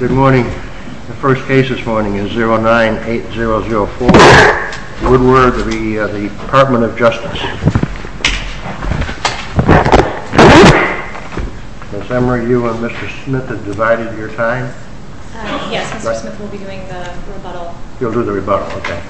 Good morning. The first case this morning is 09-8004 Woodward v. Department of Justice. Ms. Emory, you and Mr. Smith have divided your time. Yes, Mr. Smith will be doing the rebuttal. He'll do the rebuttal, okay.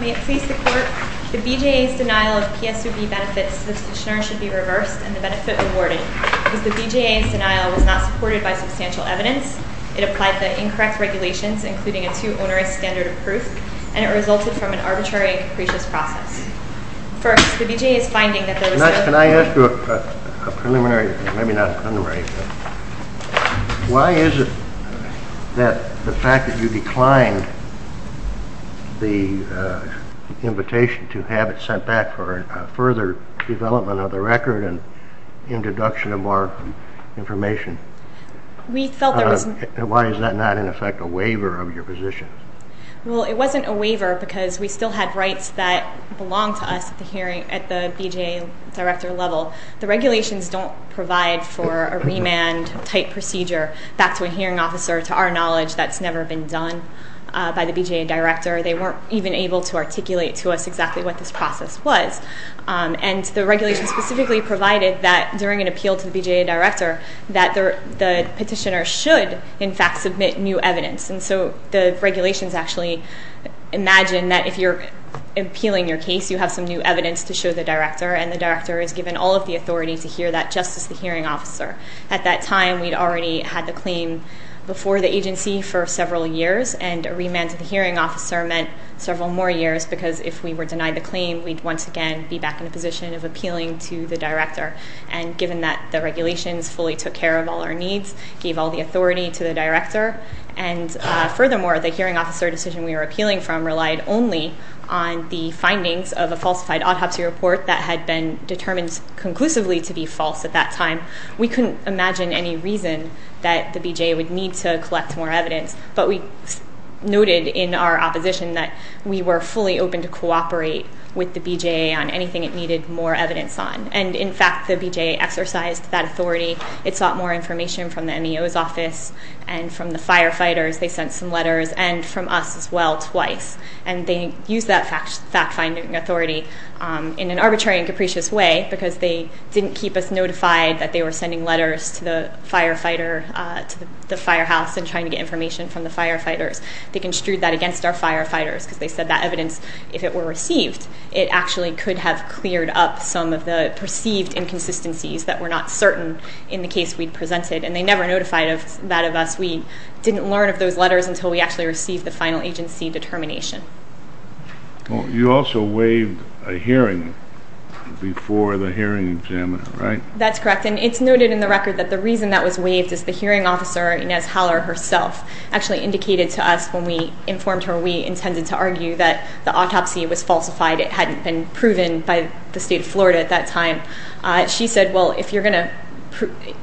May it please the court, the BJA's denial of PSUB benefits to the petitioner should be reversed and the benefit rewarded. Because the BJA's denial was not supported by substantial evidence. It applied the incorrect regulations, including a too onerous standard of proof, and it resulted from an arbitrary and capricious process. First, the BJA is finding that there was... Can I ask you a preliminary, maybe not a preliminary question? Why is it that the fact that you declined the invitation to have it sent back for further development of the record and introduction of more information? We felt there was... Why is that not, in effect, a waiver of your position? Well, it wasn't a waiver because we still had rights that belonged to us at the hearing, at the BJA director level. The regulations don't provide for a remand-type procedure back to a hearing officer, to our knowledge. That's never been done by the BJA director. They weren't even able to articulate to us exactly what this process was. And the regulations specifically provided that during an appeal to the BJA director that the petitioner should, in fact, submit new evidence. And so the regulations actually imagine that if you're appealing your case, you have some new evidence to show the director, and the director is given all of the authority to hear that just as the hearing officer. At that time, we'd already had the claim before the agency for several years, and a remand to the hearing officer meant several more years, because if we were denied the claim, we'd once again be back in a position of appealing to the director. And given that the regulations fully took care of all our needs, gave all the authority to the director, and furthermore, the hearing officer decision we were appealing from relied only on the findings of a falsified autopsy report that had been determined conclusively to be false at that time, we couldn't imagine any reason that the BJA would need to collect more evidence. But we noted in our opposition that we were fully open to cooperate with the BJA on anything it needed more evidence on. And in fact, the BJA exercised that authority. It sought more information from the MEO's office and from the firefighters. They sent some letters, and from us as well, twice. And they used that fact-finding authority in an arbitrary and capricious way, because they didn't keep us notified that they were sending letters to the firefighter, to the firehouse, and trying to get information from the firefighters. They construed that against our firefighters, because they said that evidence, if it were received, it actually could have cleared up some of the perceived inconsistencies that were not certain in the case we presented. And they never notified that of us. We didn't learn of those letters until we actually received the final agency determination. You also waived a hearing before the hearing examiner, right? That's correct. And it's noted in the record that the reason that was waived is the hearing officer, Inez Haller herself, actually indicated to us when we informed her we intended to argue that the autopsy was falsified. It hadn't been proven by the state of Florida at that time. She said, well,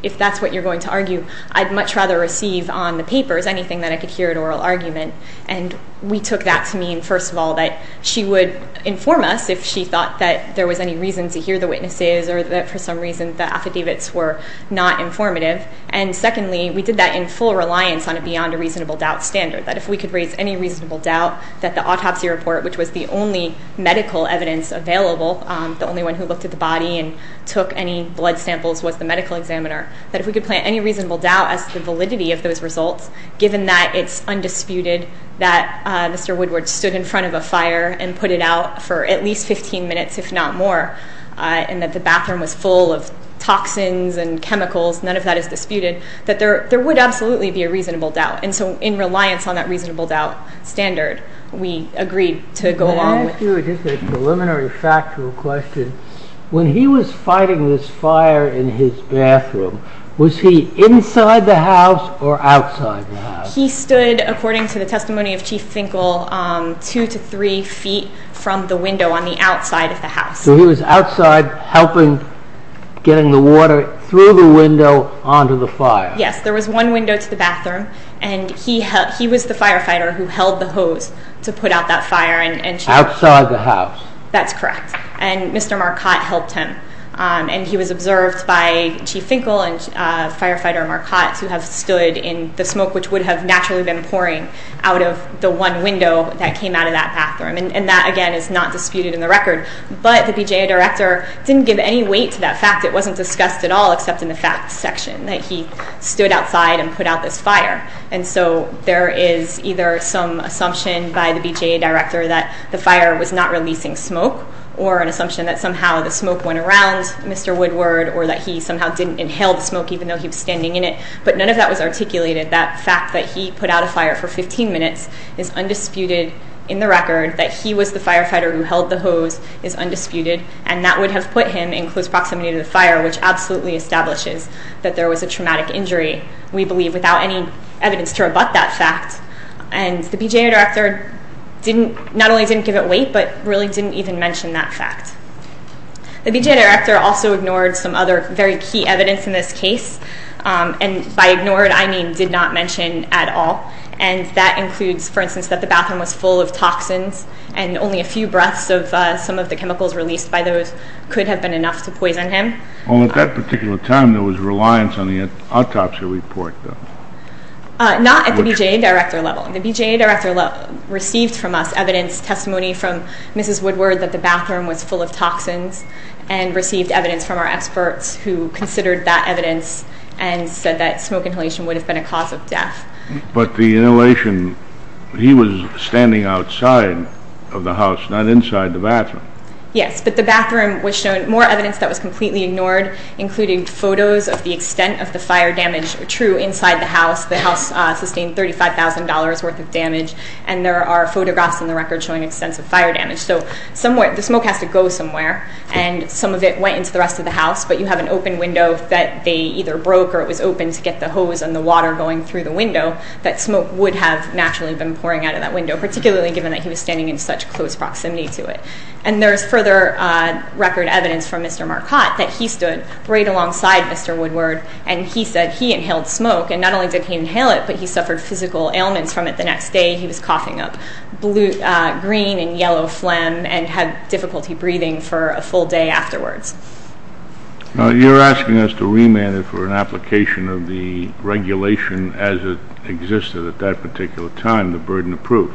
if that's what you're going to argue, I'd much rather receive on the papers anything that I could hear at oral argument. And we took that to mean, first of all, that she would inform us if she thought that there was any reason to hear the witnesses or that for some reason the affidavits were not informative. And secondly, we did that in full reliance on a beyond a reasonable doubt standard, that if we could raise any reasonable doubt that the autopsy report, which was the only medical evidence available, the only one who looked at the body and took any blood samples was the medical examiner, that if we could plant any reasonable doubt as to the validity of those results, given that it's undisputed that Mr. Woodward stood in front of a fire and put it out for at least 15 minutes, if not more, and that the bathroom was full of toxins and chemicals, none of that is disputed, that there would absolutely be a reasonable doubt. And so in reliance on that reasonable doubt standard, we agreed to go along with it. Let me ask you just a preliminary factual question. When he was fighting this fire in his bathroom, was he inside the house or outside the house? He stood, according to the testimony of Chief Finkel, two to three feet from the window on the outside of the house. So he was outside helping getting the water through the window onto the fire. Yes, there was one window to the bathroom, and he was the firefighter who held the hose to put out that fire. Outside the house. That's correct, and Mr. Marcotte helped him. And he was observed by Chief Finkel and Firefighter Marcotte, who have stood in the smoke, which would have naturally been pouring out of the one window that came out of that bathroom. And that, again, is not disputed in the record. But the BJA director didn't give any weight to that fact. It wasn't discussed at all except in the facts section, that he stood outside and put out this fire. And so there is either some assumption by the BJA director that the fire was not releasing smoke or an assumption that somehow the smoke went around Mr. Woodward or that he somehow didn't inhale the smoke even though he was standing in it. But none of that was articulated. That fact that he put out a fire for 15 minutes is undisputed in the record, that he was the firefighter who held the hose is undisputed, and that would have put him in close proximity to the fire, which absolutely establishes that there was a traumatic injury, we believe, without any evidence to rebut that fact. And the BJA director not only didn't give it weight but really didn't even mention that fact. The BJA director also ignored some other very key evidence in this case. And by ignored, I mean did not mention at all. And that includes, for instance, that the bathroom was full of toxins and only a few breaths of some of the chemicals released by those could have been enough to poison him. Well, at that particular time there was reliance on the autopsy report, though. Not at the BJA director level. The BJA director received from us evidence, testimony from Mrs. Woodward, that the bathroom was full of toxins and received evidence from our experts who considered that evidence and said that smoke inhalation would have been a cause of death. But the inhalation, he was standing outside of the house, not inside the bathroom. Yes, but the bathroom was shown more evidence that was completely ignored, including photos of the extent of the fire damage true inside the house. The house sustained $35,000 worth of damage, and there are photographs in the record showing extensive fire damage. So the smoke has to go somewhere, and some of it went into the rest of the house, but you have an open window that they either broke or it was open to get the hose and the water going through the window, that smoke would have naturally been pouring out of that window, particularly given that he was standing in such close proximity to it. And there is further record evidence from Mr. Marcotte that he stood right alongside Mr. Woodward, and he said he inhaled smoke, and not only did he inhale it, but he suffered physical ailments from it the next day. He was coughing up green and yellow phlegm and had difficulty breathing for a full day afterwards. You're asking us to remand it for an application of the regulation as it existed at that particular time, the burden of proof.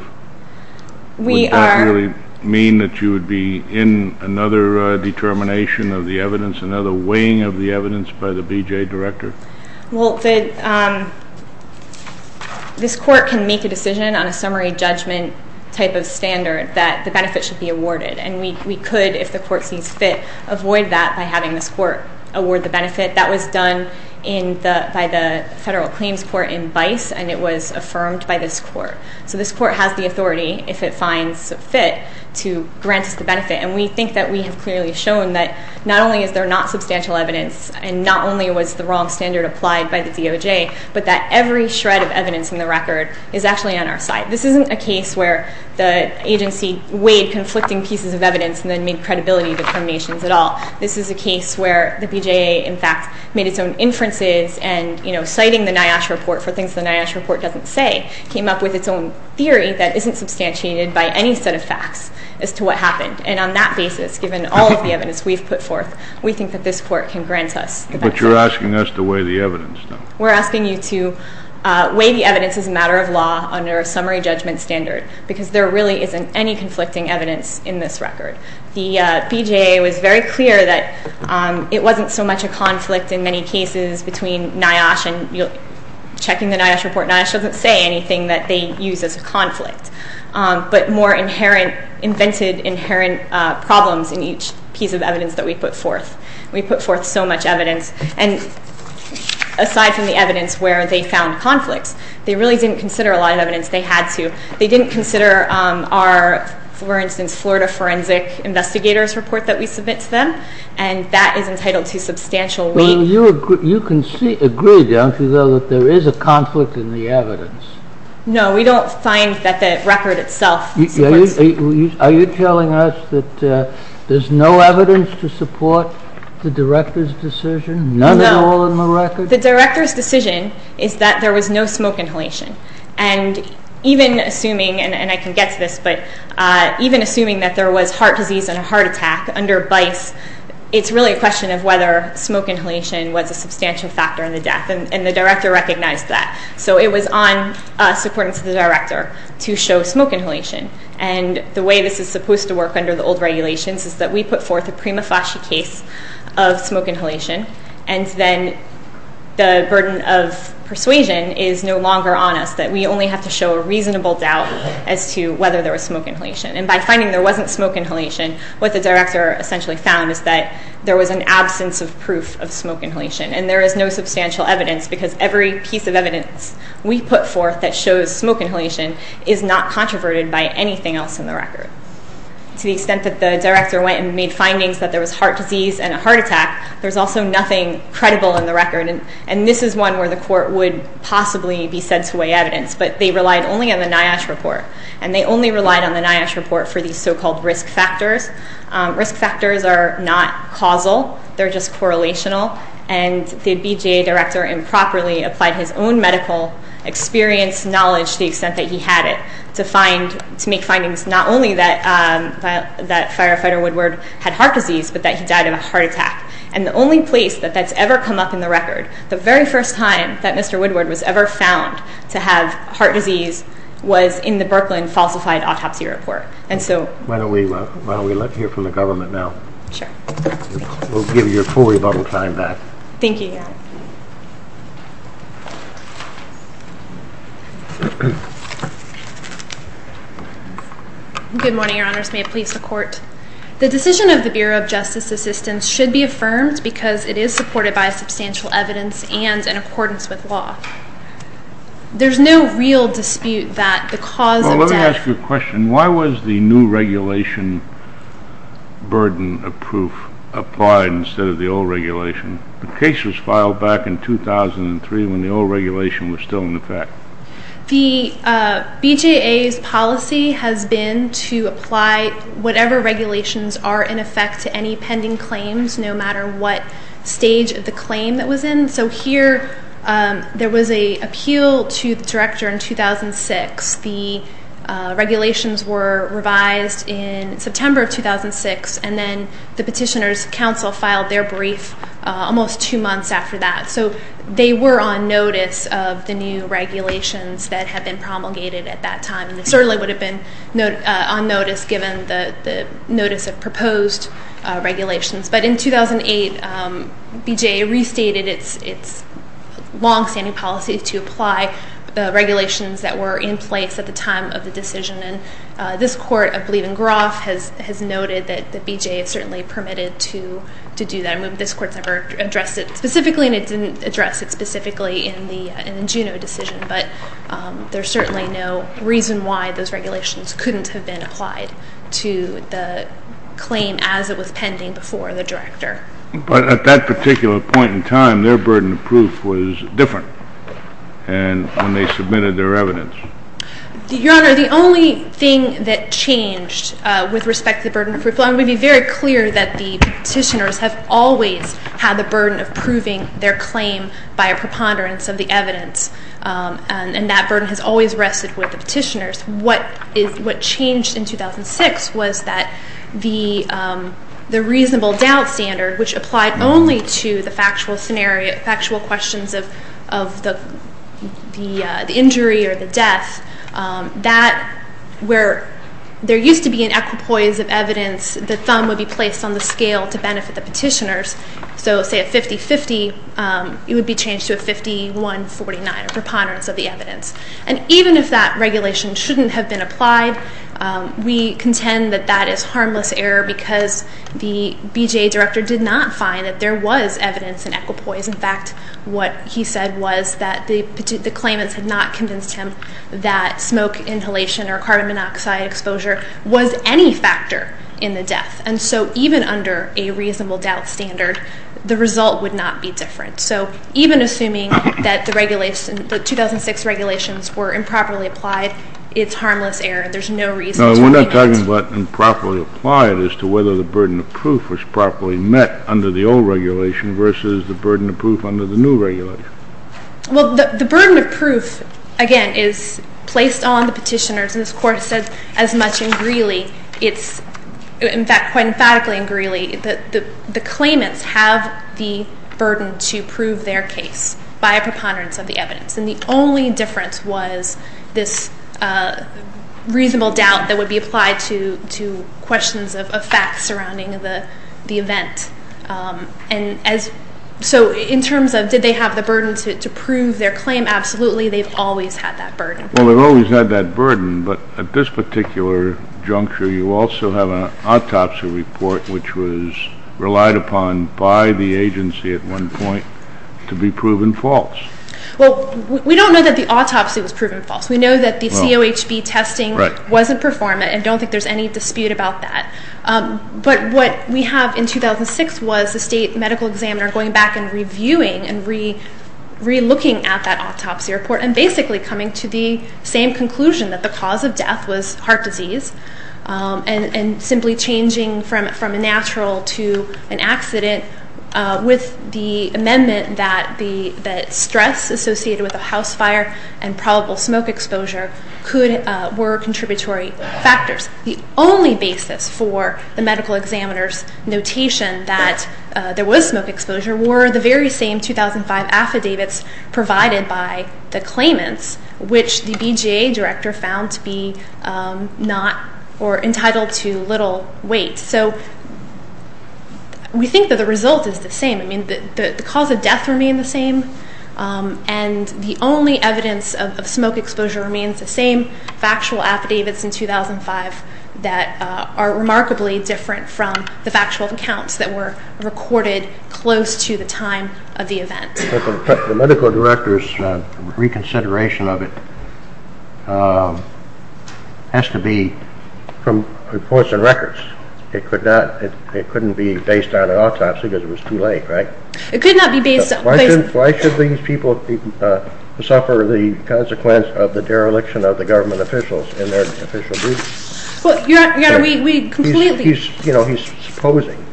Would that really mean that you would be in another determination of the evidence, another weighing of the evidence by the BJA director? Well, this court can make a decision on a summary judgment type of standard that the benefit should be awarded, and we could, if the court sees fit, avoid that by having this court award the benefit. That was done by the Federal Claims Court in Bice, and it was affirmed by this court. So this court has the authority, if it finds fit, to grant us the benefit, and we think that we have clearly shown that not only is there not substantial evidence and not only was the wrong standard applied by the DOJ, but that every shred of evidence in the record is actually on our side. This isn't a case where the agency weighed conflicting pieces of evidence and then made credibility determinations at all. This is a case where the BJA, in fact, made its own inferences and citing the NIOSH report for things the NIOSH report doesn't say, came up with its own theory that isn't substantiated by any set of facts as to what happened, and on that basis, given all of the evidence we've put forth, we think that this court can grant us the benefit. But you're asking us to weigh the evidence, though. We're asking you to weigh the evidence as a matter of law under a summary judgment standard because there really isn't any conflicting evidence in this record. The BJA was very clear that it wasn't so much a conflict in many cases between NIOSH and checking the NIOSH report, NIOSH doesn't say anything that they use as a conflict, but more inherent, invented inherent problems in each piece of evidence that we put forth. We put forth so much evidence, and aside from the evidence where they found conflicts, they really didn't consider a lot of evidence. They had to. They didn't consider our, for instance, Florida Forensic Investigator's report that we submit to them, and that is entitled to substantial weight. Well, you agree, don't you, though, that there is a conflict in the evidence? No, we don't find that the record itself supports that. Are you telling us that there's no evidence to support the director's decision? None at all in the record? No. The director's decision is that there was no smoke inhalation. And even assuming, and I can get to this, but even assuming that there was heart disease and a heart attack under BICE, it's really a question of whether smoke inhalation was a substantial factor in the death, and the director recognized that. So it was on us, according to the director, to show smoke inhalation. And the way this is supposed to work under the old regulations is that we put forth a prima facie case of smoke inhalation, and then the burden of persuasion is no longer on us, that we only have to show a reasonable doubt as to whether there was smoke inhalation. And by finding there wasn't smoke inhalation, what the director essentially found is that there was an absence of proof of smoke inhalation, and there is no substantial evidence because every piece of evidence we put forth that shows smoke inhalation is not controverted by anything else in the record. To the extent that the director went and made findings that there was heart disease and a heart attack, there's also nothing credible in the record. And this is one where the court would possibly be said to weigh evidence, but they relied only on the NIOSH report, and they only relied on the NIOSH report for these so-called risk factors. Risk factors are not causal, they're just correlational, and the BJA director improperly applied his own medical experience, knowledge, to the extent that he had it, to make findings not only that Firefighter Woodward had heart disease, but that he died of a heart attack. And the only place that that's ever come up in the record, the very first time that Mr. Woodward was ever found to have heart disease, was in the Brooklyn falsified autopsy report. Why don't we let you hear from the government now? Sure. We'll give you a full rebuttal time back. Thank you, Your Honor. Good morning, Your Honors. May it please the Court. The decision of the Bureau of Justice Assistance should be affirmed because it is supported by substantial evidence and in accordance with law. There's no real dispute that the cause of death... applied instead of the old regulation. The case was filed back in 2003 when the old regulation was still in effect. The BJA's policy has been to apply whatever regulations are in effect to any pending claims, no matter what stage of the claim it was in. So here there was an appeal to the director in 2006. The regulations were revised in September of 2006, and then the Petitioner's Council filed their brief almost two months after that. So they were on notice of the new regulations that had been promulgated at that time. They certainly would have been on notice given the notice of proposed regulations. But in 2008, BJA restated its longstanding policy to apply regulations that were in place at the time of the decision. And this Court, I believe in Groff, has noted that the BJA has certainly permitted to do that. And this Court's never addressed it specifically, and it didn't address it specifically in the Juneau decision. But there's certainly no reason why those regulations couldn't have been applied to the claim as it was pending before the director. But at that particular point in time, their burden of proof was different when they submitted their evidence. Your Honor, the only thing that changed with respect to the burden of proof, I want to be very clear that the petitioners have always had the burden of proving their claim by a preponderance of the evidence. And that burden has always rested with the petitioners. What changed in 2006 was that the reasonable doubt standard, which applied only to the factual questions of the injury or the death, that where there used to be an equipoise of evidence, the thumb would be placed on the scale to benefit the petitioners. So say a 50-50, it would be changed to a 51-49, a preponderance of the evidence. And even if that regulation shouldn't have been applied, we contend that that is harmless error because the BJA director did not find that there was evidence in equipoise. In fact, what he said was that the claimants had not convinced him that smoke inhalation or carbon monoxide exposure was any factor in the death. And so even under a reasonable doubt standard, the result would not be different. So even assuming that the 2006 regulations were improperly applied, it's harmless error. There's no reason to repeat it. No, we're not talking about improperly applied as to whether the burden of proof was properly met under the old regulation versus the burden of proof under the new regulation. Well, the burden of proof, again, is placed on the petitioners. And this Court has said as much in Greeley, in fact, quite emphatically in Greeley, that the claimants have the burden to prove their case by a preponderance of the evidence. And the only difference was this reasonable doubt that would be applied to questions of facts surrounding the event. And so in terms of did they have the burden to prove their claim, absolutely, they've always had that burden. Well, they've always had that burden, but at this particular juncture, you also have an autopsy report which was relied upon by the agency at one point to be proven false. Well, we don't know that the autopsy was proven false. We know that the COHB testing wasn't performed, and I don't think there's any dispute about that. But what we have in 2006 was the state medical examiner going back and reviewing and relooking at that autopsy report and basically coming to the same conclusion that the cause of death was heart disease and simply changing from a natural to an accident with the amendment that stress associated with a house fire and probable smoke exposure were contributory factors. The only basis for the medical examiner's notation that there was smoke exposure were the very same 2005 affidavits provided by the claimants, which the BJA director found to be not or entitled to little weight. So we think that the result is the same. I mean, the cause of death remained the same, and the only evidence of smoke exposure remains the same factual affidavits in 2005 that are remarkably different from the factual accounts that were recorded close to the time of the event. The medical director's reconsideration of it has to be from reports and records. It couldn't be based on an autopsy because it was too late, right? Why should these people suffer the consequence of the dereliction of the government officials in their official duties? He's supposing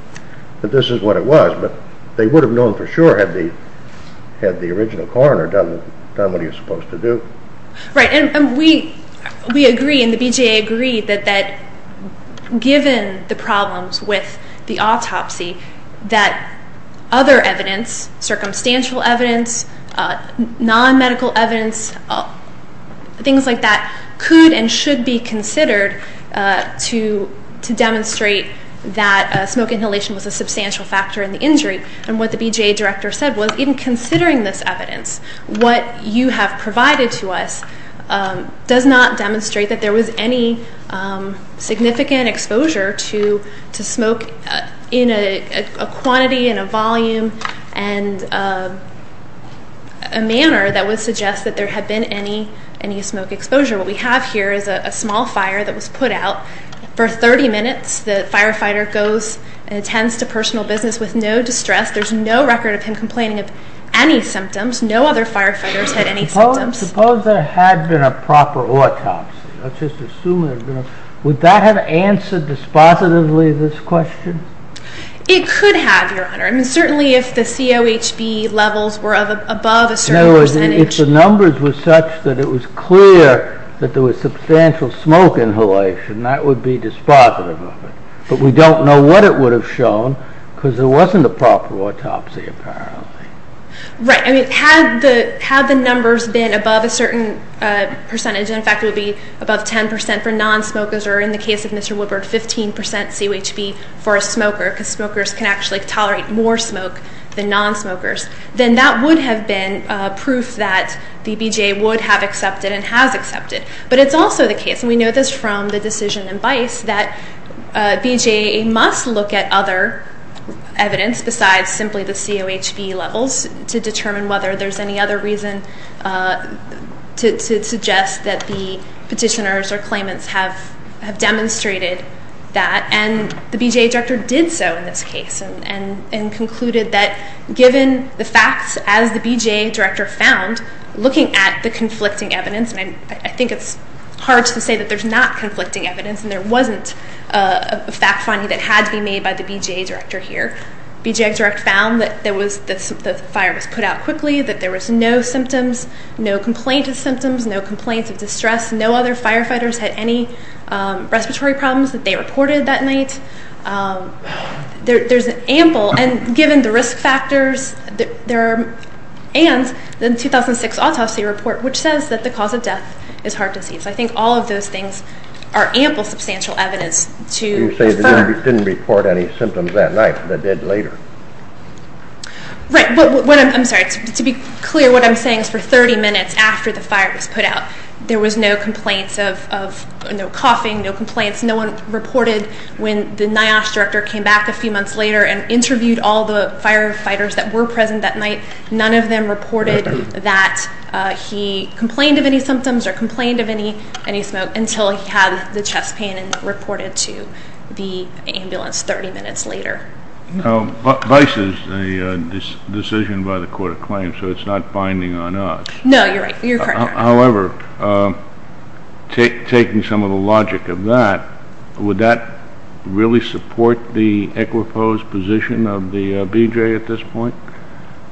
that this is what it was, but they would have known for sure had the original coroner done what he was supposed to do. Right, and we agree, and the BJA agreed, that given the problems with the autopsy, that other evidence, circumstantial evidence, non-medical evidence, things like that, could and should be considered to demonstrate that smoke inhalation was a substantial factor in the injury. And what the BJA director said was, in considering this evidence, what you have provided to us does not demonstrate that there was any significant exposure to smoke in a quantity and a volume and a manner that would suggest that there had been any smoke exposure. What we have here is a small fire that was put out for 30 minutes. The firefighter goes and attends to personal business with no distress. There's no record of him complaining of any symptoms. No other firefighters had any symptoms. Suppose there had been a proper autopsy. Would that have answered dispositively this question? It could have, Your Honor. Certainly if the COHB levels were above a certain percentage. If the numbers were such that it was clear that there was substantial smoke inhalation, that would be dispositive of it. But we don't know what it would have shown, because there wasn't a proper autopsy, apparently. Right. Had the numbers been above a certain percentage, and in fact it would be above 10% for non-smokers, or in the case of Mr. Woodward, 15% COHB for a smoker, because smokers can actually tolerate more smoke than non-smokers, then that would have been proof that the BJA would have accepted and has accepted. But it's also the case, and we know this from the decision in BICE, that BJA must look at other evidence besides simply the COHB levels to determine whether there's any other reason to suggest that the petitioners or claimants have demonstrated that. And the BJA director did so in this case and concluded that given the facts as the BJA director found, looking at the conflicting evidence, and I think it's hard to say that there's not conflicting evidence and there wasn't a fact finding that had to be made by the BJA director here, the BJA director found that the fire was put out quickly, that there was no symptoms, no complaint of symptoms, no complaints of distress, no other firefighters had any respiratory problems that they reported that night. There's ample, and given the risk factors, and the 2006 autopsy report which says that the cause of death is heart disease. I think all of those things are ample substantial evidence to infer. You say they didn't report any symptoms that night, but they did later. Right, but I'm sorry, to be clear, what I'm saying is for 30 minutes after the fire was put out, there was no complaints of coughing, no complaints, no one reported when the NIOSH director came back a few months later and interviewed all the firefighters that were present that night. None of them reported that he complained of any symptoms or complained of any smoke until he had the chest pain and reported to the ambulance 30 minutes later. Vice is a decision by the court of claims, so it's not binding on us. No, you're right. You're correct. However, taking some of the logic of that, would that really support the equiposed position of the BJ at this point,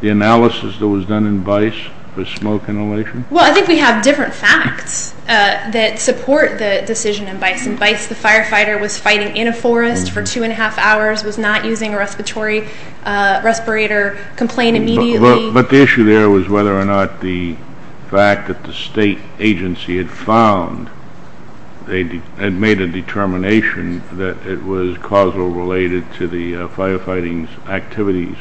the analysis that was done in Vice for smoke inhalation? Well, I think we have different facts that support the decision in Vice. In Vice, the firefighter was fighting in a forest for two and a half hours, was not using a respiratory respirator, complained immediately. But the issue there was whether or not the fact that the state agency had found and made a determination that it was causal related to the firefighting activities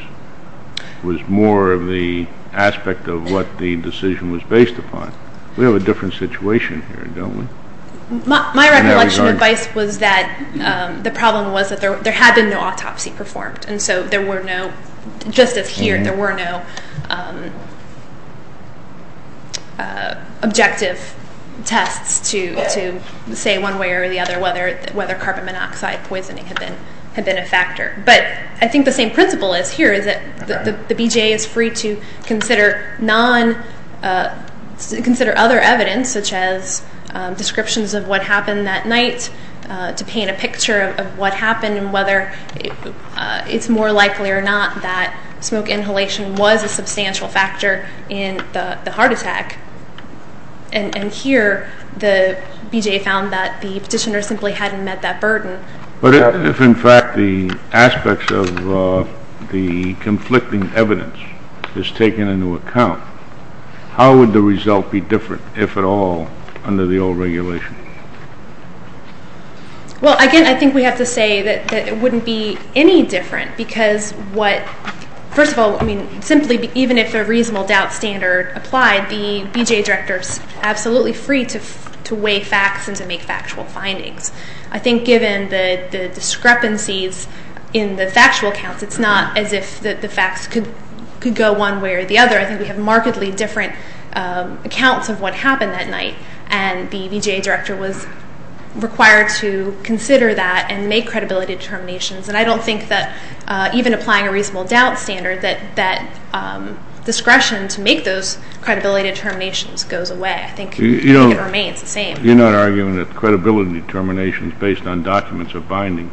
was more of the aspect of what the decision was based upon. We have a different situation here, don't we? My recollection of Vice was that the problem was that there had been no autopsy performed, and so there were no, just as here, there were no objective tests to say one way or the other whether carbon monoxide poisoning had been a factor. But I think the same principle is here, is that the BJ is free to consider other evidence, such as descriptions of what happened that night, to paint a picture of what happened and whether it's more likely or not that smoke inhalation was a substantial factor in the heart attack. And here, the BJ found that the petitioner simply hadn't met that burden. But if, in fact, the aspects of the conflicting evidence is taken into account, how would the result be different, if at all, under the old regulation? Well, again, I think we have to say that it wouldn't be any different because what, first of all, simply even if a reasonable doubt standard applied, the BJ director is absolutely free to weigh facts and to make factual findings. I think given the discrepancies in the factual accounts, it's not as if the facts could go one way or the other. I think we have markedly different accounts of what happened that night, and the BJ director was required to consider that and make credibility determinations. And I don't think that even applying a reasonable doubt standard, that discretion to make those credibility determinations goes away. I think it remains the same. You're not arguing that credibility determinations based on documents are binding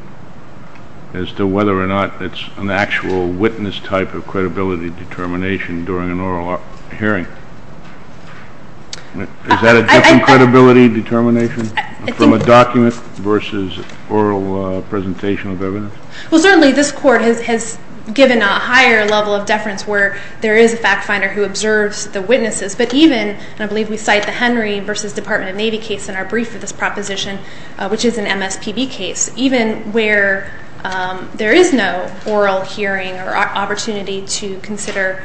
as to whether or not it's an actual witness type of credibility determination during an oral hearing. Is that a different credibility determination from a document versus oral presentation of evidence? Well, certainly this Court has given a higher level of deference where there is a fact finder who observes the witnesses. But even, and I believe we cite the Henry v. Department of Navy case in our brief for this proposition, which is an MSPB case, even where there is no oral hearing or opportunity to consider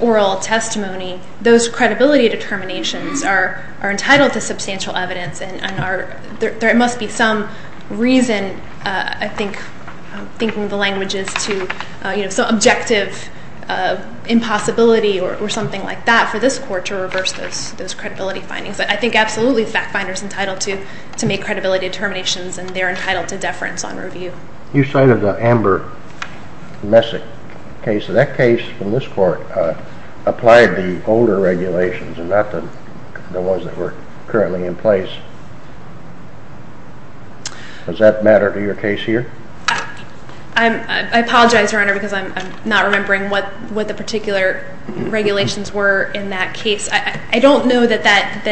oral testimony, those credibility determinations are entitled to substantial evidence, and there must be some reason, I'm thinking of the languages, to some objective impossibility or something like that for this Court to reverse those credibility findings. But I think absolutely the fact finder is entitled to make credibility determinations, and they're entitled to deference on review. You cited the Amber Messick case. That case from this Court applied the older regulations and not the ones that were currently in place. Does that matter to your case here? I apologize, Your Honor, because I'm not remembering what the particular regulations were in that case. I don't know that that,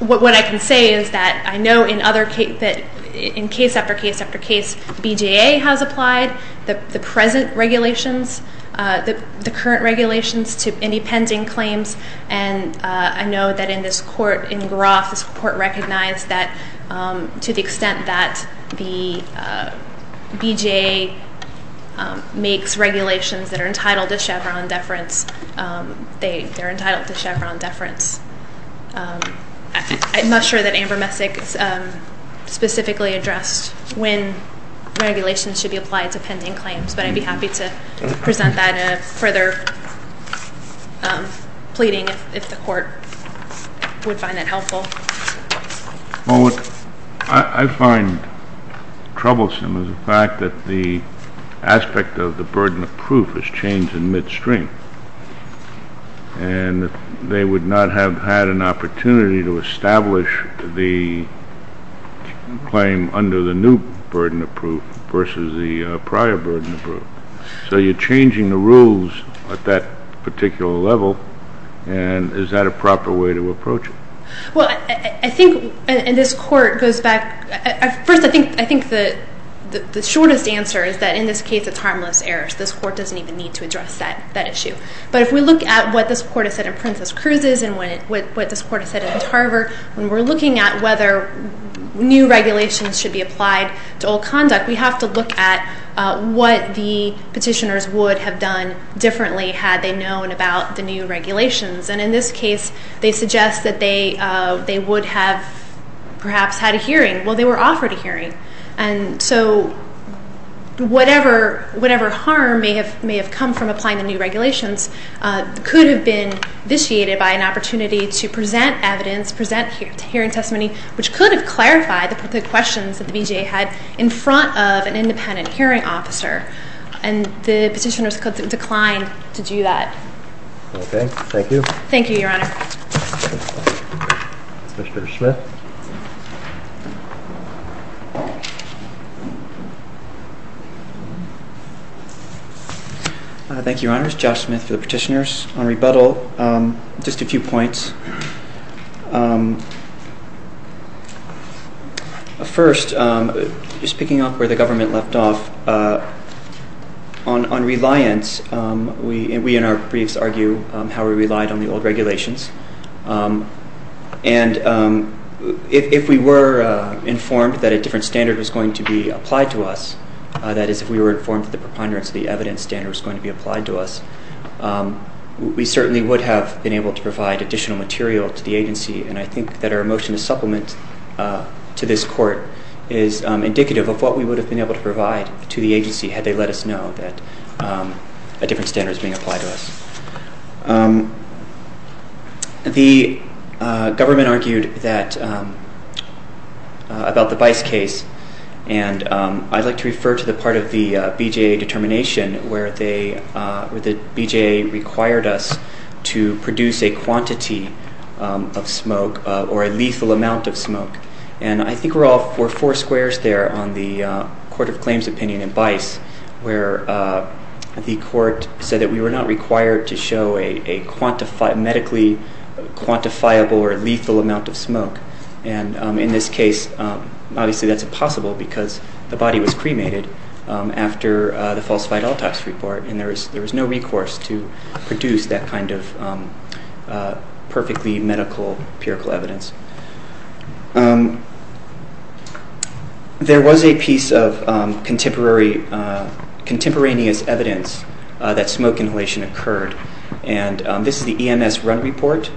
what I can say is that I know in case after case after case, BJA has applied the present regulations, the current regulations to any pending claims, and I know that in this Court, in Groff, this Court recognized that to the extent that the BJA makes regulations that are entitled to Chevron deference, they're entitled to Chevron deference. I'm not sure that Amber Messick specifically addressed when regulations should be applied to pending claims, but I'd be happy to present that in a further pleading if the Court would find that helpful. Well, what I find troublesome is the fact that the aspect of the burden of proof has changed in midstream, and they would not have had an opportunity to establish the claim under the new burden of proof versus the prior burden of proof. So you're changing the rules at that particular level, and is that a proper way to approach it? Well, I think, and this Court goes back, first I think the shortest answer is that in this case it's harmless errors. This Court doesn't even need to address that issue. But if we look at what this Court has said in Princess Cruz's and what this Court has said in Tarver, when we're looking at whether new regulations should be applied to old conduct, we have to look at what the petitioners would have done differently had they known about the new regulations. And in this case, they suggest that they would have perhaps had a hearing. Well, they were offered a hearing, and so whatever harm may have come from applying the new regulations could have been vitiated by an opportunity to present evidence, present hearing testimony, which could have clarified the questions that the BJA had in front of an independent hearing officer. And the petitioners declined to do that. Okay. Thank you. Thank you, Your Honor. Mr. Smith. Thank you, Your Honors. Josh Smith for the petitioners. On rebuttal, just a few points. First, just picking up where the government left off, on reliance, we in our briefs argue how we relied on the old regulations. And if we were informed that a different standard was going to be applied to us, that is, if we were informed that the preponderance of the evidence standard was going to be applied to us, we certainly would have been able to provide additional material to the agency. And I think that our motion to supplement to this Court is indicative of what we would have been able to provide to the agency had they let us know that a different standard was being applied to us. The government argued about the Bice case, and I'd like to refer to the part of the BJA determination where the BJA required us to produce a quantity of smoke or a lethal amount of smoke. And I think we're all four squares there on the Court of Claims opinion in Bice, where the Court said that we were not required to show a medically quantifiable or lethal amount of smoke. And in this case, obviously that's impossible because the body was cremated after the falsified autopsy report, and there was no recourse to produce that kind of perfectly medical empirical evidence. There was a piece of contemporaneous evidence that smoke inhalation occurred, and this is the EMS run report.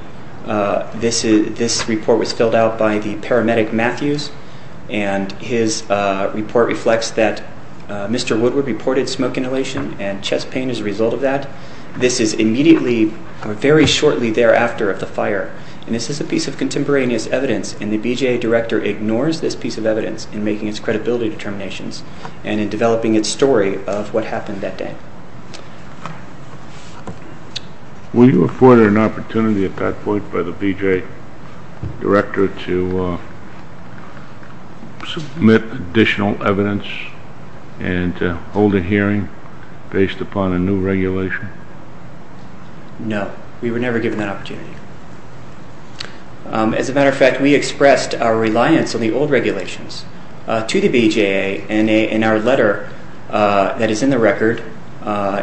This report was filled out by the paramedic Matthews, and his report reflects that Mr. Woodward reported smoke inhalation and chest pain as a result of that. This is immediately or very shortly thereafter of the fire, and this is a piece of contemporaneous evidence, and the BJA director ignores this piece of evidence in making its credibility determinations and in developing its story of what happened that day. Will you afford an opportunity at that point by the BJA director to submit additional evidence and hold a hearing based upon a new regulation? No, we were never given that opportunity. As a matter of fact, we expressed our reliance on the old regulations to the BJA, and in our letter that is in the record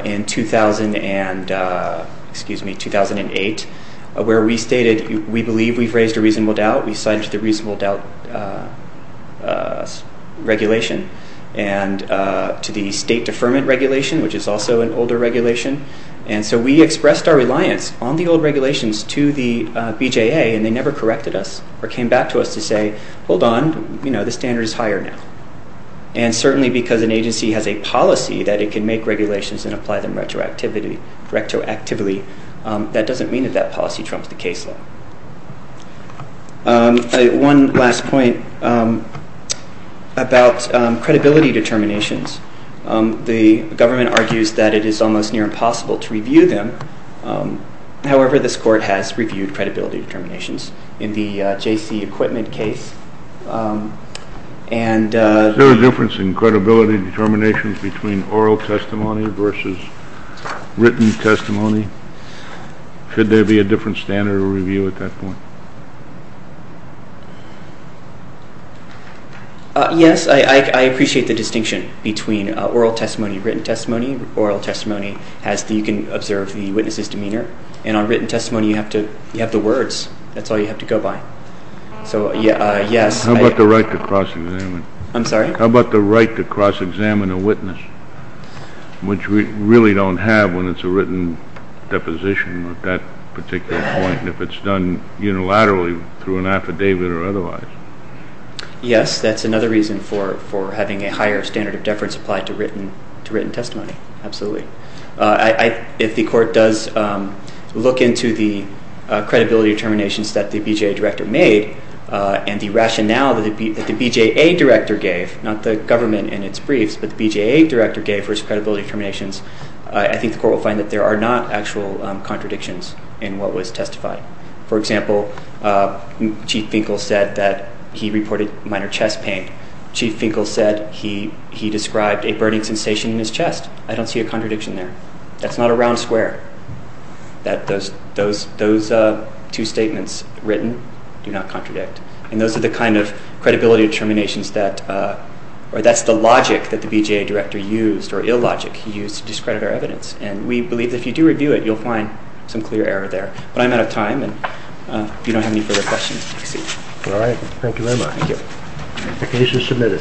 in 2008, where we stated we believe we've raised a reasonable doubt, we signed the reasonable doubt regulation to the state deferment regulation, which is also an older regulation, and so we expressed our reliance on the old regulations to the BJA, and they never corrected us or came back to us to say, hold on, the standard is higher now. And certainly because an agency has a policy that it can make regulations and apply them retroactively, that doesn't mean that that policy trumps the case law. One last point about credibility determinations. The government argues that it is almost near impossible to review them. However, this court has reviewed credibility determinations. In the JC Equipment case, and... Is there a difference in credibility determinations between oral testimony versus written testimony? Should there be a different standard of review at that point? Yes, I appreciate the distinction between oral testimony, written testimony. And on written testimony, you have the words. That's all you have to go by. How about the right to cross-examine? I'm sorry? How about the right to cross-examine a witness, which we really don't have when it's a written deposition at that particular point, if it's done unilaterally through an affidavit or otherwise? Yes, that's another reason for having a higher standard of deference applied to written testimony, absolutely. If the court does look into the credibility determinations that the BJA director made, and the rationale that the BJA director gave, not the government in its briefs, but the BJA director gave for his credibility determinations, I think the court will find that there are not actual contradictions in what was testified. For example, Chief Finkel said that he reported minor chest pain. Chief Finkel said he described a burning sensation in his chest. I don't see a contradiction there. That's not a round square, that those two statements written do not contradict. And those are the kind of credibility determinations that, or that's the logic that the BJA director used, or illogic he used, to discredit our evidence. And we believe that if you do review it, you'll find some clear error there. But I'm out of time, and if you don't have any further questions, proceed. All right. Thank you very much. Thank you. The case is submitted.